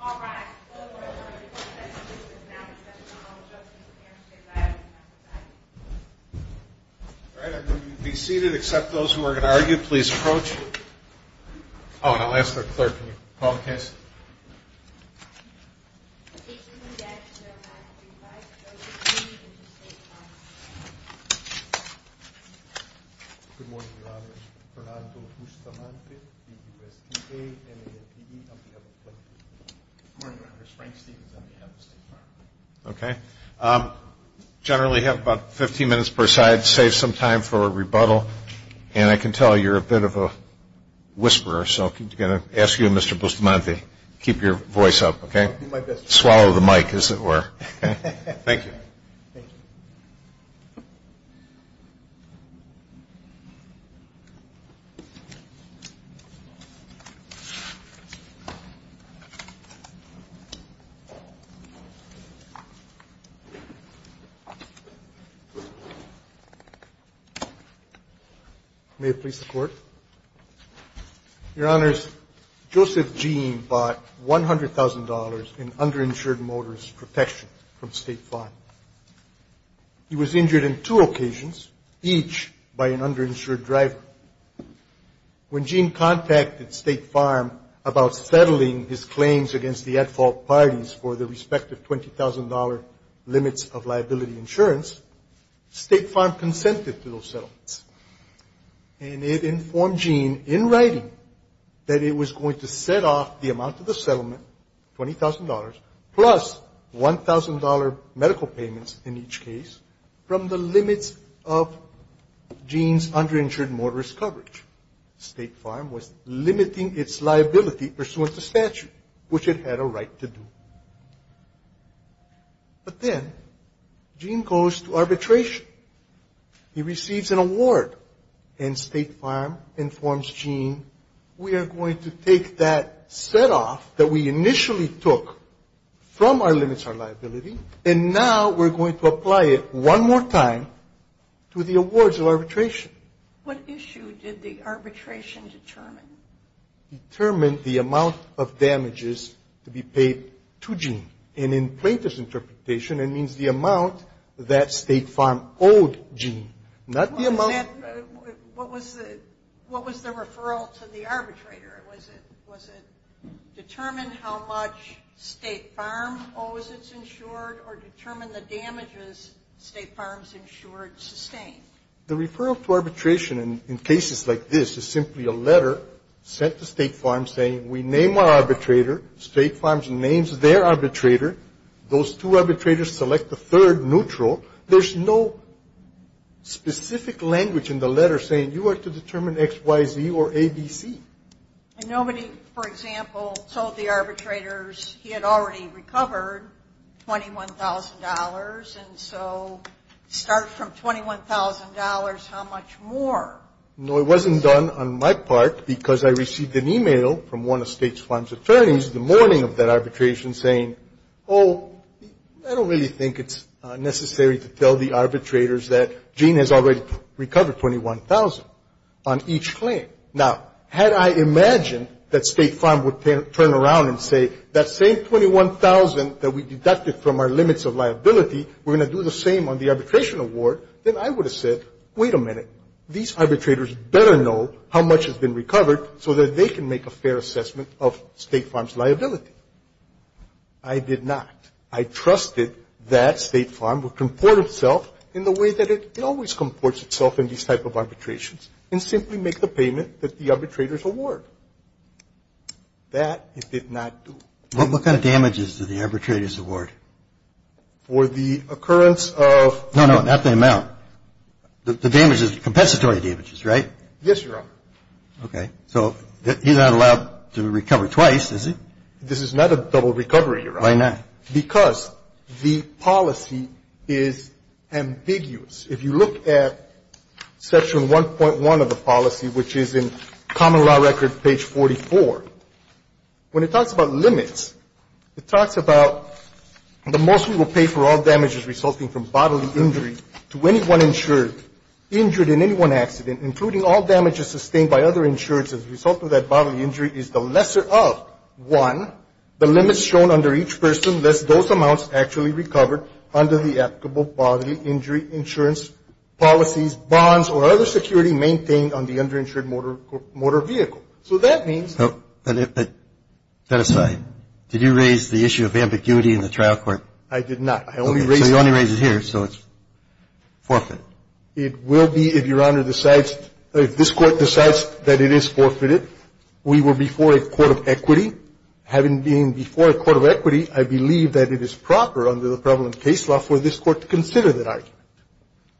All right, all the board members are in session. This is now the session on all the justices of the United States. I ask you to come to the side. All right, I'm going to be seated. Except those who are going to argue, please approach. Oh, and I'll ask for a clerk. Can you call the case? The cases in the action there are not to be tried. They are to be reviewed in the State Farm. Good morning, Your Honor. Bernardo Bustamante, BUSDA, NAPD, on behalf of the State Farm. Good morning, Your Honor. Frank Stevens, on behalf of the State Farm. Okay. Generally have about 15 minutes per side. Save some time for a rebuttal. And I can tell you're a bit of a whisperer, so I'm going to ask you, Mr. Bustamante, keep your voice up, okay? I'll do my best. Swallow the mic, as it were. Thank you. Thank you. May it please the Court. Your Honors, Joseph Gene bought $100,000 in underinsured motorist protection from State Farm. He was injured in two occasions, each by an underinsured driver. When Gene contacted State Farm about settling his claims against the at-fault parties for their respective $20,000 limits of liability insurance, State Farm consented to those settlements. And it informed Gene in writing that it was going to set off the amount of the settlement, $20,000, plus $1,000 medical payments in each case from the limits of Gene's underinsured motorist coverage. State Farm was limiting its liability pursuant to statute, which it had a right to do. But then Gene goes to arbitration. He receives an award, and State Farm informs Gene, we are going to take that set-off that we initially took from our limits of liability, and now we're going to apply it one more time to the awards of arbitration. What issue did the arbitration determine? It determined the amount of damages to be paid to Gene. And in Plater's interpretation, it means the amount that State Farm owed Gene, not the amount. What was the referral to the arbitrator? Was it determine how much State Farm owes its insured, or determine the damages State Farm's insured sustained? The referral to arbitration in cases like this is simply a letter sent to State Farm saying, we name our arbitrator. State Farm names their arbitrator. Those two arbitrators select the third neutral. There's no specific language in the letter saying you are to determine X, Y, Z, or A, B, C. And nobody, for example, told the arbitrators he had already recovered $21,000, and so start from $21,000, how much more? No, it wasn't done on my part because I received an e-mail from one of State Farm's attorneys the morning of that arbitration saying, oh, I don't really think it's necessary to tell the arbitrators that Gene has already recovered $21,000 on each claim. Now, had I imagined that State Farm would turn around and say, that same $21,000 that we deducted from our limits of liability, we're going to do the same on the arbitration award, then I would have said, wait a minute, these arbitrators better know how much has been recovered so that they can make a fair assessment of State Farm's liability. I did not. I trusted that State Farm would comport itself in the way that it always comports itself in these type of arbitrations and simply make the payment that the arbitrators award. That it did not do. What kind of damages did the arbitrators award? For the occurrence of... No, no, not the amount. The damages, compensatory damages, right? Yes, Your Honor. Okay. So he's not allowed to recover twice, is he? This is not a double recovery, Your Honor. Why not? Because the policy is ambiguous. If you look at Section 1.1 of the policy, which is in Common Law Record, page 44, when it talks about limits, it talks about the most we will pay for all damages resulting from bodily injury to anyone insured, injured in any one accident, including all damages sustained by other insurances as a result of that bodily injury is the lesser of, one, the limits shown under each person, unless those amounts actually recovered under the applicable bodily injury insurance policies, bonds, or other security maintained on the underinsured motor vehicle. So that means... But, but, that aside, did you raise the issue of ambiguity in the trial court? I did not. I only raised... So you only raised it here, so it's forfeit. It will be, if Your Honor decides, if this Court decides that it is forfeited. We were before a court of equity. Having been before a court of equity, I believe that it is proper under the prevalent case law for this Court to consider that argument.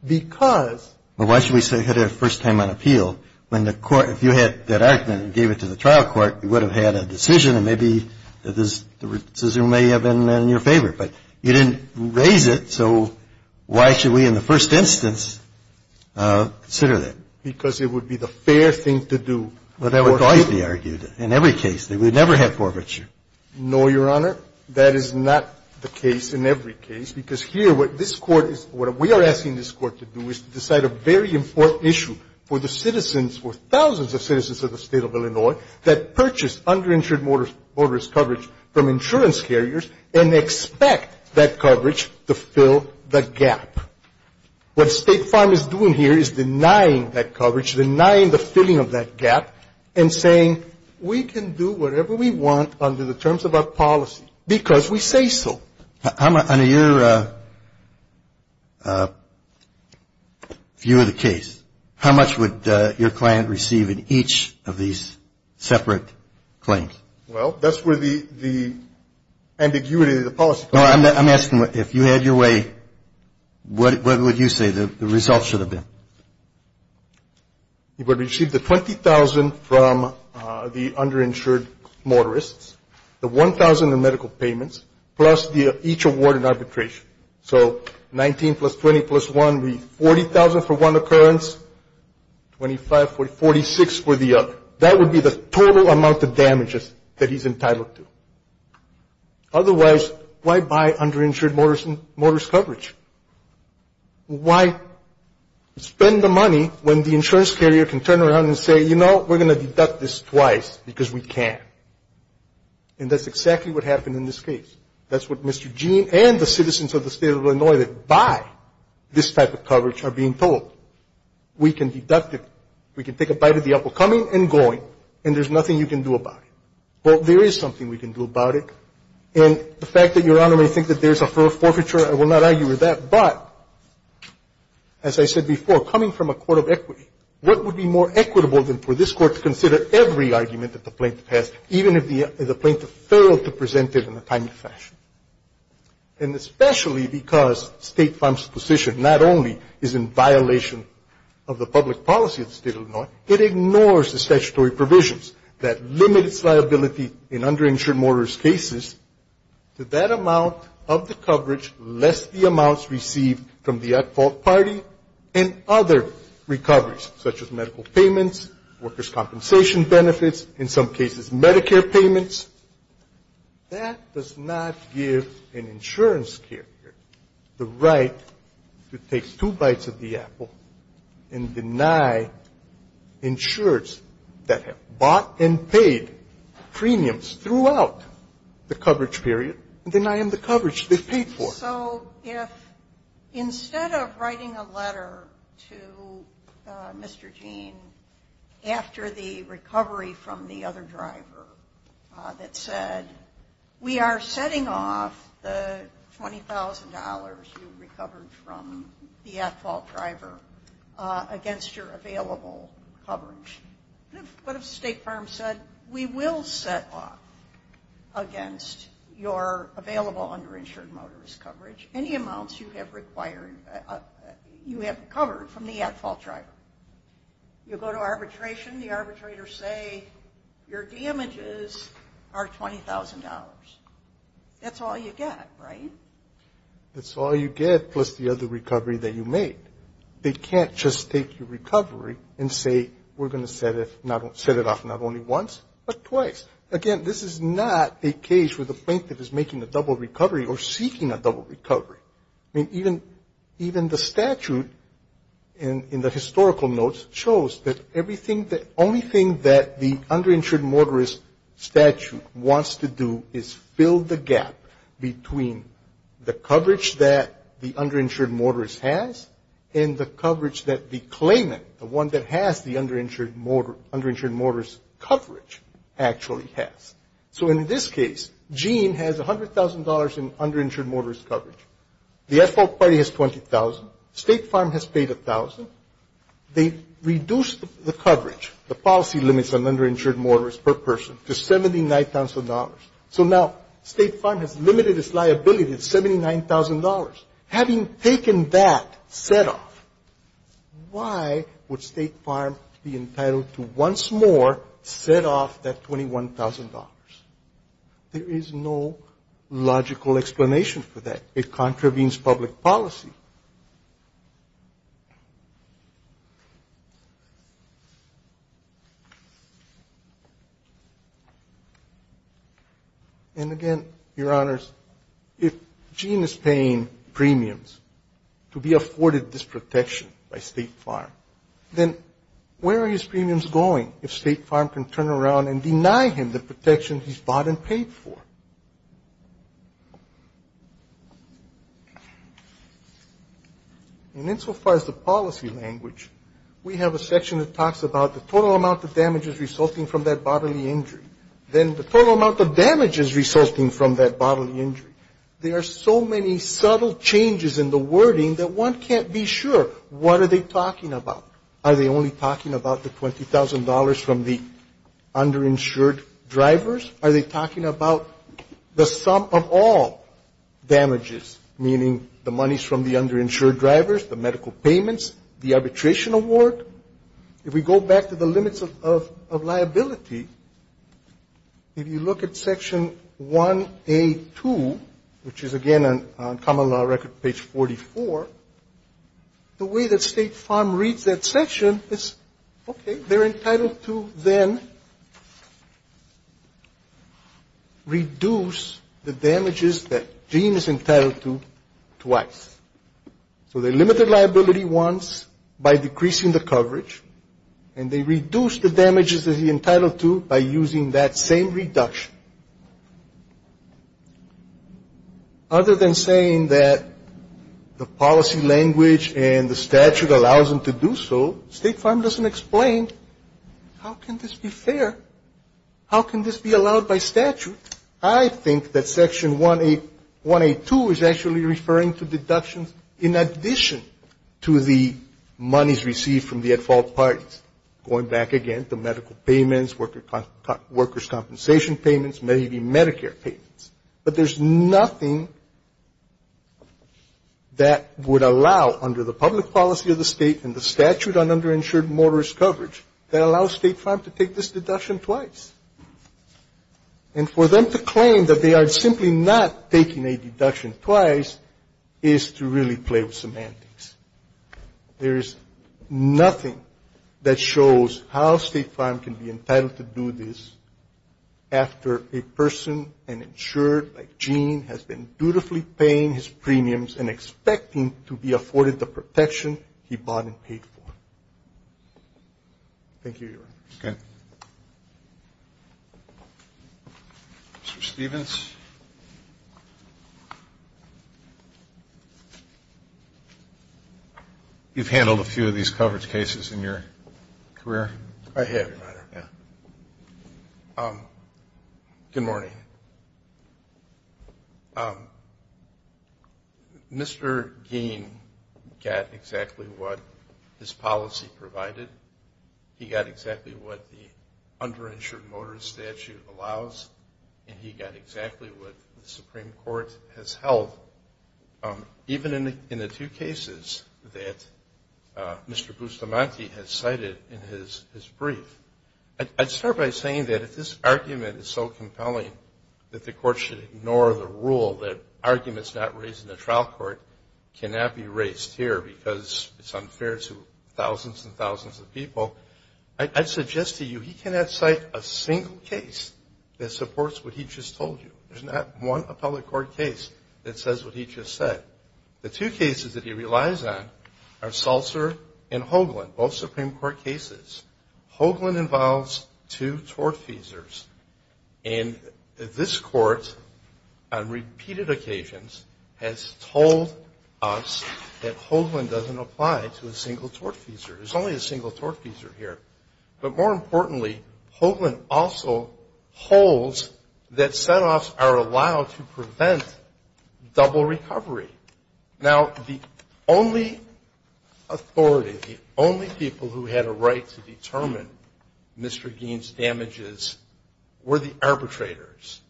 Because... But why should we say we had it the first time on appeal when the Court, if you had that argument and gave it to the trial court, you would have had a decision and maybe the decision may have been in your favor. But you didn't raise it, so why should we in the first instance consider that? Because it would be the fair thing to do. Well, that would always be argued. In every case, they would never have forfeiture. No, Your Honor. That is not the case in every case, because here what this Court is, what we are asking this Court to do is to decide a very important issue for the citizens, for thousands of citizens of the State of Illinois that purchased underinsured motorist coverage from insurance carriers and expect that coverage to fill the gap. What State Farm is doing here is denying that coverage, denying the filling of that gap, and saying we can do whatever we want under the terms of our policy because we say so. Under your view of the case, how much would your client receive in each of these separate claims? Well, that's where the ambiguity of the policy comes in. No, I'm asking if you had your way, what would you say the results should have been? He would receive the $20,000 from the underinsured motorists, the $1,000 in medical payments, plus each award in arbitration. So $19,000 plus $20,000 plus $1,000 would be $40,000 for one occurrence, $25,000, $46,000 for the other. That would be the total amount of damages that he's entitled to. Otherwise, why buy underinsured motorist coverage? Why spend the money when the insurance carrier can turn around and say, you know, we're going to deduct this twice because we can. And that's exactly what happened in this case. That's what Mr. Gene and the citizens of the State of Illinois that buy this type of coverage are being told. We can deduct it. We can take a bite of the apple coming and going, and there's nothing you can do about it. Well, there is something we can do about it. And the fact that Your Honor may think that there's a forfeiture, I will not argue with that. But, as I said before, coming from a court of equity, what would be more equitable than for this court to consider every argument that the plaintiff has, even if the plaintiff failed to present it in a timely fashion? And especially because State Farm's position not only is in violation of the public policy of the State of Illinois, it ignores the statutory provisions that limit its liability in underinsured motorist cases to that amount of the coverage, lest the amounts received from the at-fault party and other recoveries, such as medical payments, workers' compensation benefits, in some cases Medicare payments. That does not give an insurance carrier the right to take two bites of the apple and deny insurers that have bought and paid premiums throughout the coverage period and deny them the coverage they've paid for. So if instead of writing a letter to Mr. Gene after the recovery from the other driver that said, we are setting off the $20,000 you recovered from the at-fault driver against your available coverage, what if State Farm said, we will set off against your available underinsured motorist coverage any amounts you have recovered from the at-fault driver? You go to arbitration, the arbitrators say your damages are $20,000. That's all you get, right? That's all you get plus the other recovery that you made. They can't just take your recovery and say we're going to set it off not only once but twice. Again, this is not a case where the plaintiff is making a double recovery or seeking a double recovery. I mean, even the statute in the historical notes shows that everything, the only thing that the underinsured motorist statute wants to do is fill the gap between the coverage that the underinsured motorist has and the coverage that the claimant, the one that has the underinsured motorist coverage actually has. So in this case, Gene has $100,000 in underinsured motorist coverage. The at-fault party has $20,000. State Farm has paid $1,000. They reduced the coverage, the policy limits on underinsured motorists per person to $79,000. So now State Farm has limited its liability to $79,000. Having taken that set off, why would State Farm be entitled to once more set off that $21,000? There is no logical explanation for that. It contravenes public policy. And, again, Your Honors, if Gene is paying premiums to be afforded this protection by State Farm, then where are his premiums going if State Farm can turn around and deny him the protection he's bought and paid for? And insofar as the policy language, we have a section that talks about the total amount of damages resulting from that bodily injury. Then the total amount of damages resulting from that bodily injury. There are so many subtle changes in the wording that one can't be sure what are they talking about. Are they only talking about the $20,000 from the underinsured drivers? Are they talking about the sum of all damages, meaning the monies from the underinsured drivers, the medical payments, the arbitration award? If we go back to the limits of liability, if you look at Section 1A2, which is, again, on Common Law Record, page 44, the way that State Farm reads that section is, okay, they're entitled to then reduce the damages that Gene is entitled to twice. So they limit the liability once by decreasing the coverage, and they reduce the damages that he's entitled to by using that same reduction. Other than saying that the policy language and the statute allows them to do so, State Farm doesn't explain how can this be fair? How can this be allowed by statute? I think that Section 1A2 is actually referring to deductions in addition to the monies received from the at-fault parties, going back again to medical payments, workers' compensation payments, maybe Medicare payments. But there's nothing that would allow, under the public policy of the State and the statute on underinsured motorist coverage, that allows State Farm to take this deduction twice. And for them to claim that they are simply not taking a deduction twice is to really play with semantics. There is nothing that shows how State Farm can be entitled to do this after a person and insured like Gene has been dutifully paying his premiums and expecting to be afforded the protection he bought and paid for. Thank you, Your Honor. Okay. Mr. Stevens? You've handled a few of these coverage cases in your career? I have, Your Honor. Yeah. Good morning. Mr. Gein got exactly what his policy provided. He got exactly what the underinsured motorist statute allows, and he got exactly what the Supreme Court has held, even in the two cases that Mr. Bustamante has cited in his brief. I'd start by saying that if this argument is so compelling that the court should ignore the rule that arguments not raised in the trial court cannot be raised here because it's unfair to thousands and thousands of people, I'd suggest to you he cannot cite a single case that supports what he just told you. There's not one appellate court case that says what he just said. The two cases that he relies on are Salzer and Hoagland, both Supreme Court cases. Hoagland involves two tortfeasors, and this court on repeated occasions has told us that Hoagland doesn't apply to a single tortfeasor. There's only a single tortfeasor here. But more importantly, Hoagland also holds that setoffs are allowed to prevent double recovery. Now, the only authority, the only people who had a right to determine Mr. Gein's damages were the arbitrators.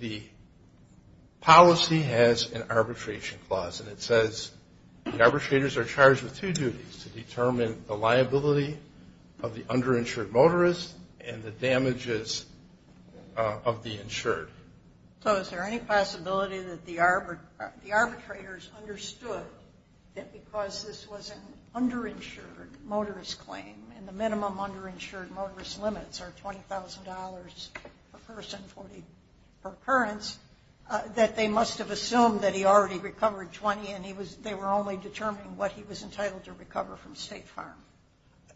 The policy has an arbitration clause, and it says the arbitrators are charged with two duties to determine the liability of the underinsured motorist and the damages of the insured. So is there any possibility that the arbitrators understood that because this was an underinsured motorist claim and the minimum underinsured motorist limits are $20,000 per person per occurrence, that they must have assumed that he already recovered $20,000 and they were only determining what he was entitled to recover from State Farm?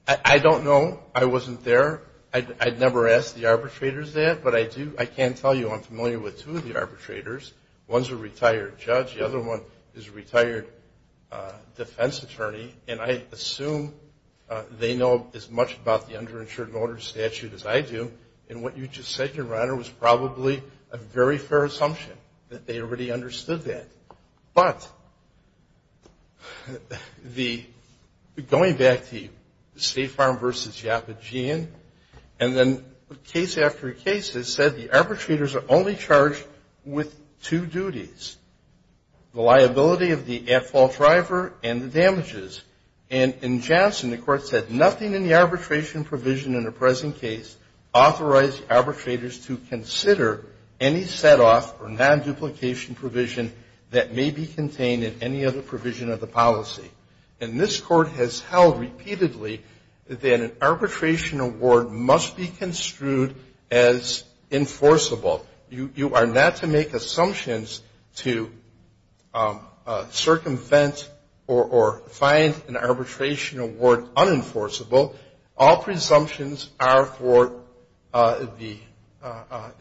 I don't know. I wasn't there. I'd never asked the arbitrators that, but I do. I can tell you I'm familiar with two of the arbitrators. One's a retired judge. The other one is a retired defense attorney, and I assume they know as much about the underinsured motorist statute as I do. And what you just said, Your Honor, was probably a very fair assumption, that they already understood that. But going back to State Farm v. Yappagean, and then case after case has said the arbitrators are only charged with two duties, the liability of the at-fault driver and the damages. And in Johnson, the Court said, nothing in the arbitration provision in the present case authorized arbitrators to consider any set-off or non-duplication provision that may be contained in any other provision of the policy. And this Court has held repeatedly that an arbitration award must be construed as enforceable. You are not to make assumptions to circumvent or find an arbitration award unenforceable. All presumptions are for the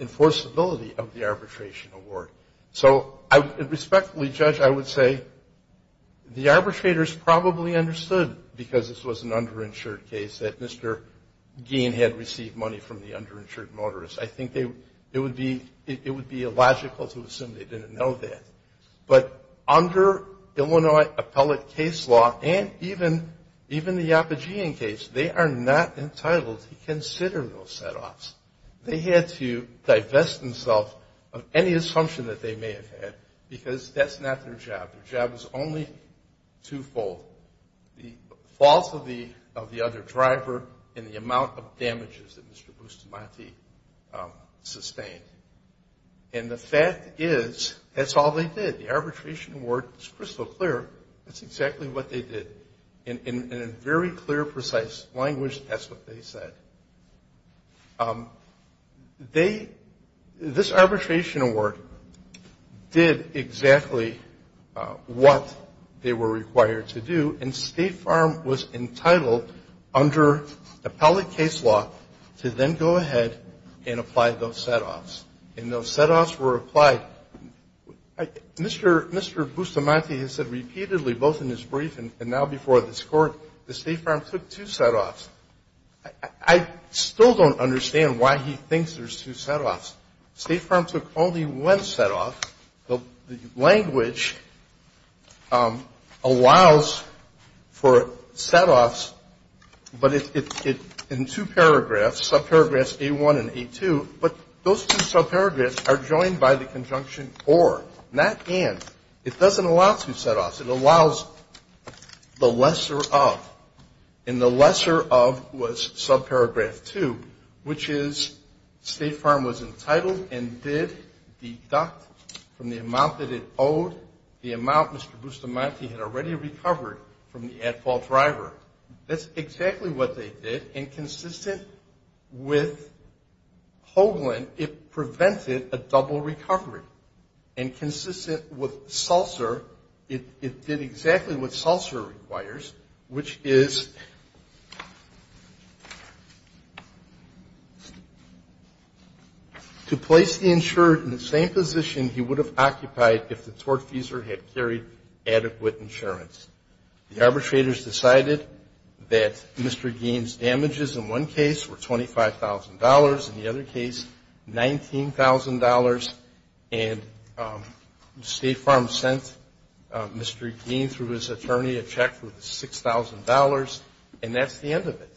enforceability of the arbitration award. So, respectfully, Judge, I would say the arbitrators probably understood, because this was an underinsured case, that Mr. Gein had received money from the underinsured motorist. I think it would be illogical to assume they didn't know that. But under Illinois appellate case law, and even the Yappagean case, they are not entitled to consider those set-offs. They had to divest themselves of any assumption that they may have had, because that's not their job. Their job is only twofold, the fault of the other driver and the amount of damages that Mr. Bustamante sustained. And the fact is, that's all they did. The arbitration award is crystal clear. That's exactly what they did. In a very clear, precise language, that's what they said. This arbitration award did exactly what they were required to do, and State Farm was entitled, under appellate case law, to then go ahead and apply those set-offs. And those set-offs were applied. Mr. Bustamante has said repeatedly, both in his brief and now before this Court, that State Farm took two set-offs. I still don't understand why he thinks there's two set-offs. State Farm took only one set-off. The language allows for set-offs, but it's in two paragraphs, subparagraphs But those two subparagraphs are joined by the conjunction or, not and. It doesn't allow two set-offs. It allows the lesser of, and the lesser of was subparagraph 2, which is State Farm was entitled and did deduct from the amount that it owed the amount Mr. Bustamante had already recovered from the at-fault driver. That's exactly what they did, and consistent with Hoagland, it prevented a double recovery. And consistent with Seltzer, it did exactly what Seltzer requires, which is to place the insured in the same position he would have occupied if the tortfeasor had carried adequate insurance. The arbitrators decided that Mr. Gein's damages in one case were $25,000, in the other case $19,000, and State Farm sent Mr. Gein through his attorney a check for the $6,000, and that's the end of it.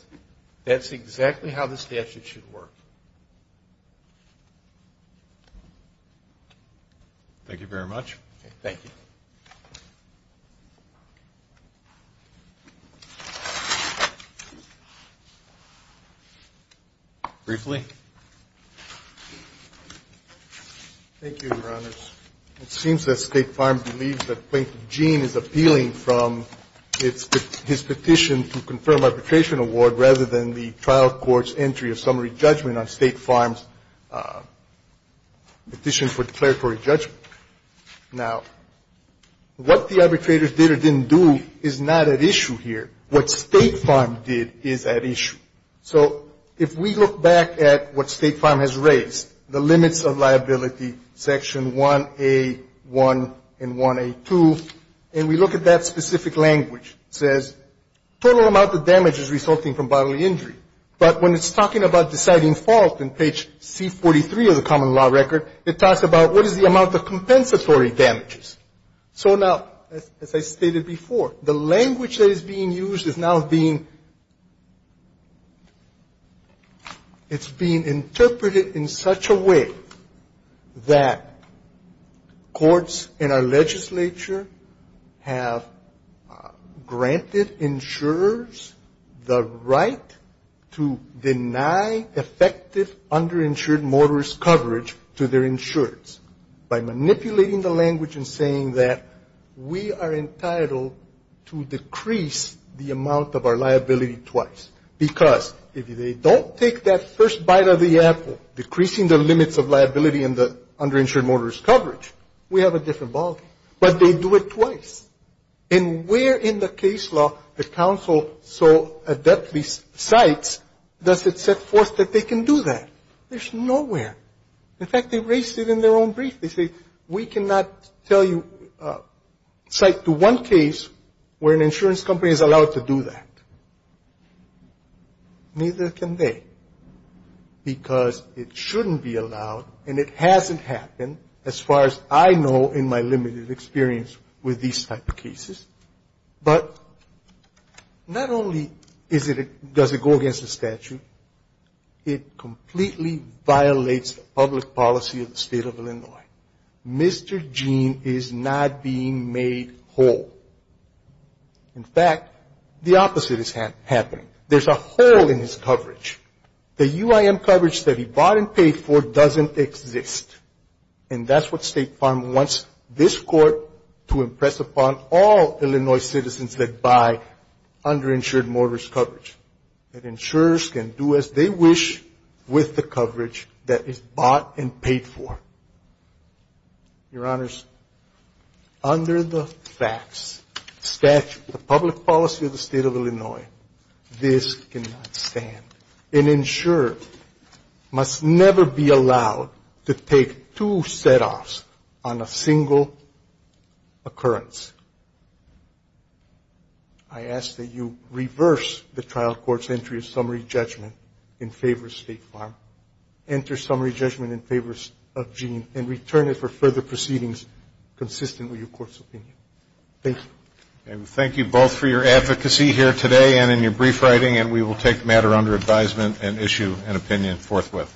That's exactly how the statute should work. Thank you very much. Thank you. Briefly. Thank you, Your Honors. It seems that State Farm believes that Plaintiff Gein is appealing from his petition to confirm arbitration award rather than the trial court's entry of summary judgment on State Farm's petition for declaratory judgment. Now, what the arbitrators did or didn't do is not at issue here. What State Farm did is at issue. So if we look back at what State Farm has raised, the limits of liability, Section 1A1 and 1A2, and we look at that specific language, it says total amount of damages resulting from bodily injury. But when it's talking about deciding fault in page C43 of the common law record, it talks about what is the amount of compensatory damages. So now, as I stated before, the language that is being used is now being, it's being interpreted in such a way that courts and our legislature have granted insurers the right to deny effective underinsured motorist coverage to their insurers by manipulating the language and saying that we are entitled to decrease the amount of our liability twice. Because if they don't take that first bite of the apple, decreasing the limits of liability and the underinsured motorist coverage, we have a different ballgame. But they do it twice. And where in the case law the counsel so adeptly cites does it set forth that they can do that? There's nowhere. In fact, they raised it in their own brief. They say, we cannot tell you, cite to one case where an insurance company is allowed to do that. Neither can they. Because it shouldn't be allowed, and it hasn't happened as far as I know in my limited experience with these type of cases. But not only does it go against the statute, it completely violates public policy of the State of Illinois. Mr. Gene is not being made whole. In fact, the opposite is happening. There's a hole in his coverage. The UIM coverage that he bought and paid for doesn't exist. And that's what State Farm wants this Court to impress upon all Illinois citizens that buy underinsured motorist coverage, that insurers can do as they wish with the coverage that is bought and paid for. Your Honors, under the facts, statute, the public policy of the State of Illinois, this cannot stand. An insurer must never be allowed to take two setoffs on a single occurrence. I ask that you reverse the trial court's entry of summary judgment in favor of State Farm, enter summary judgment in favor of Gene, and return it for further proceedings consistent with your court's opinion. Thank you. Thank you both for your advocacy here today and in your brief writing, and we will take the matter under advisement and issue an opinion forthwith.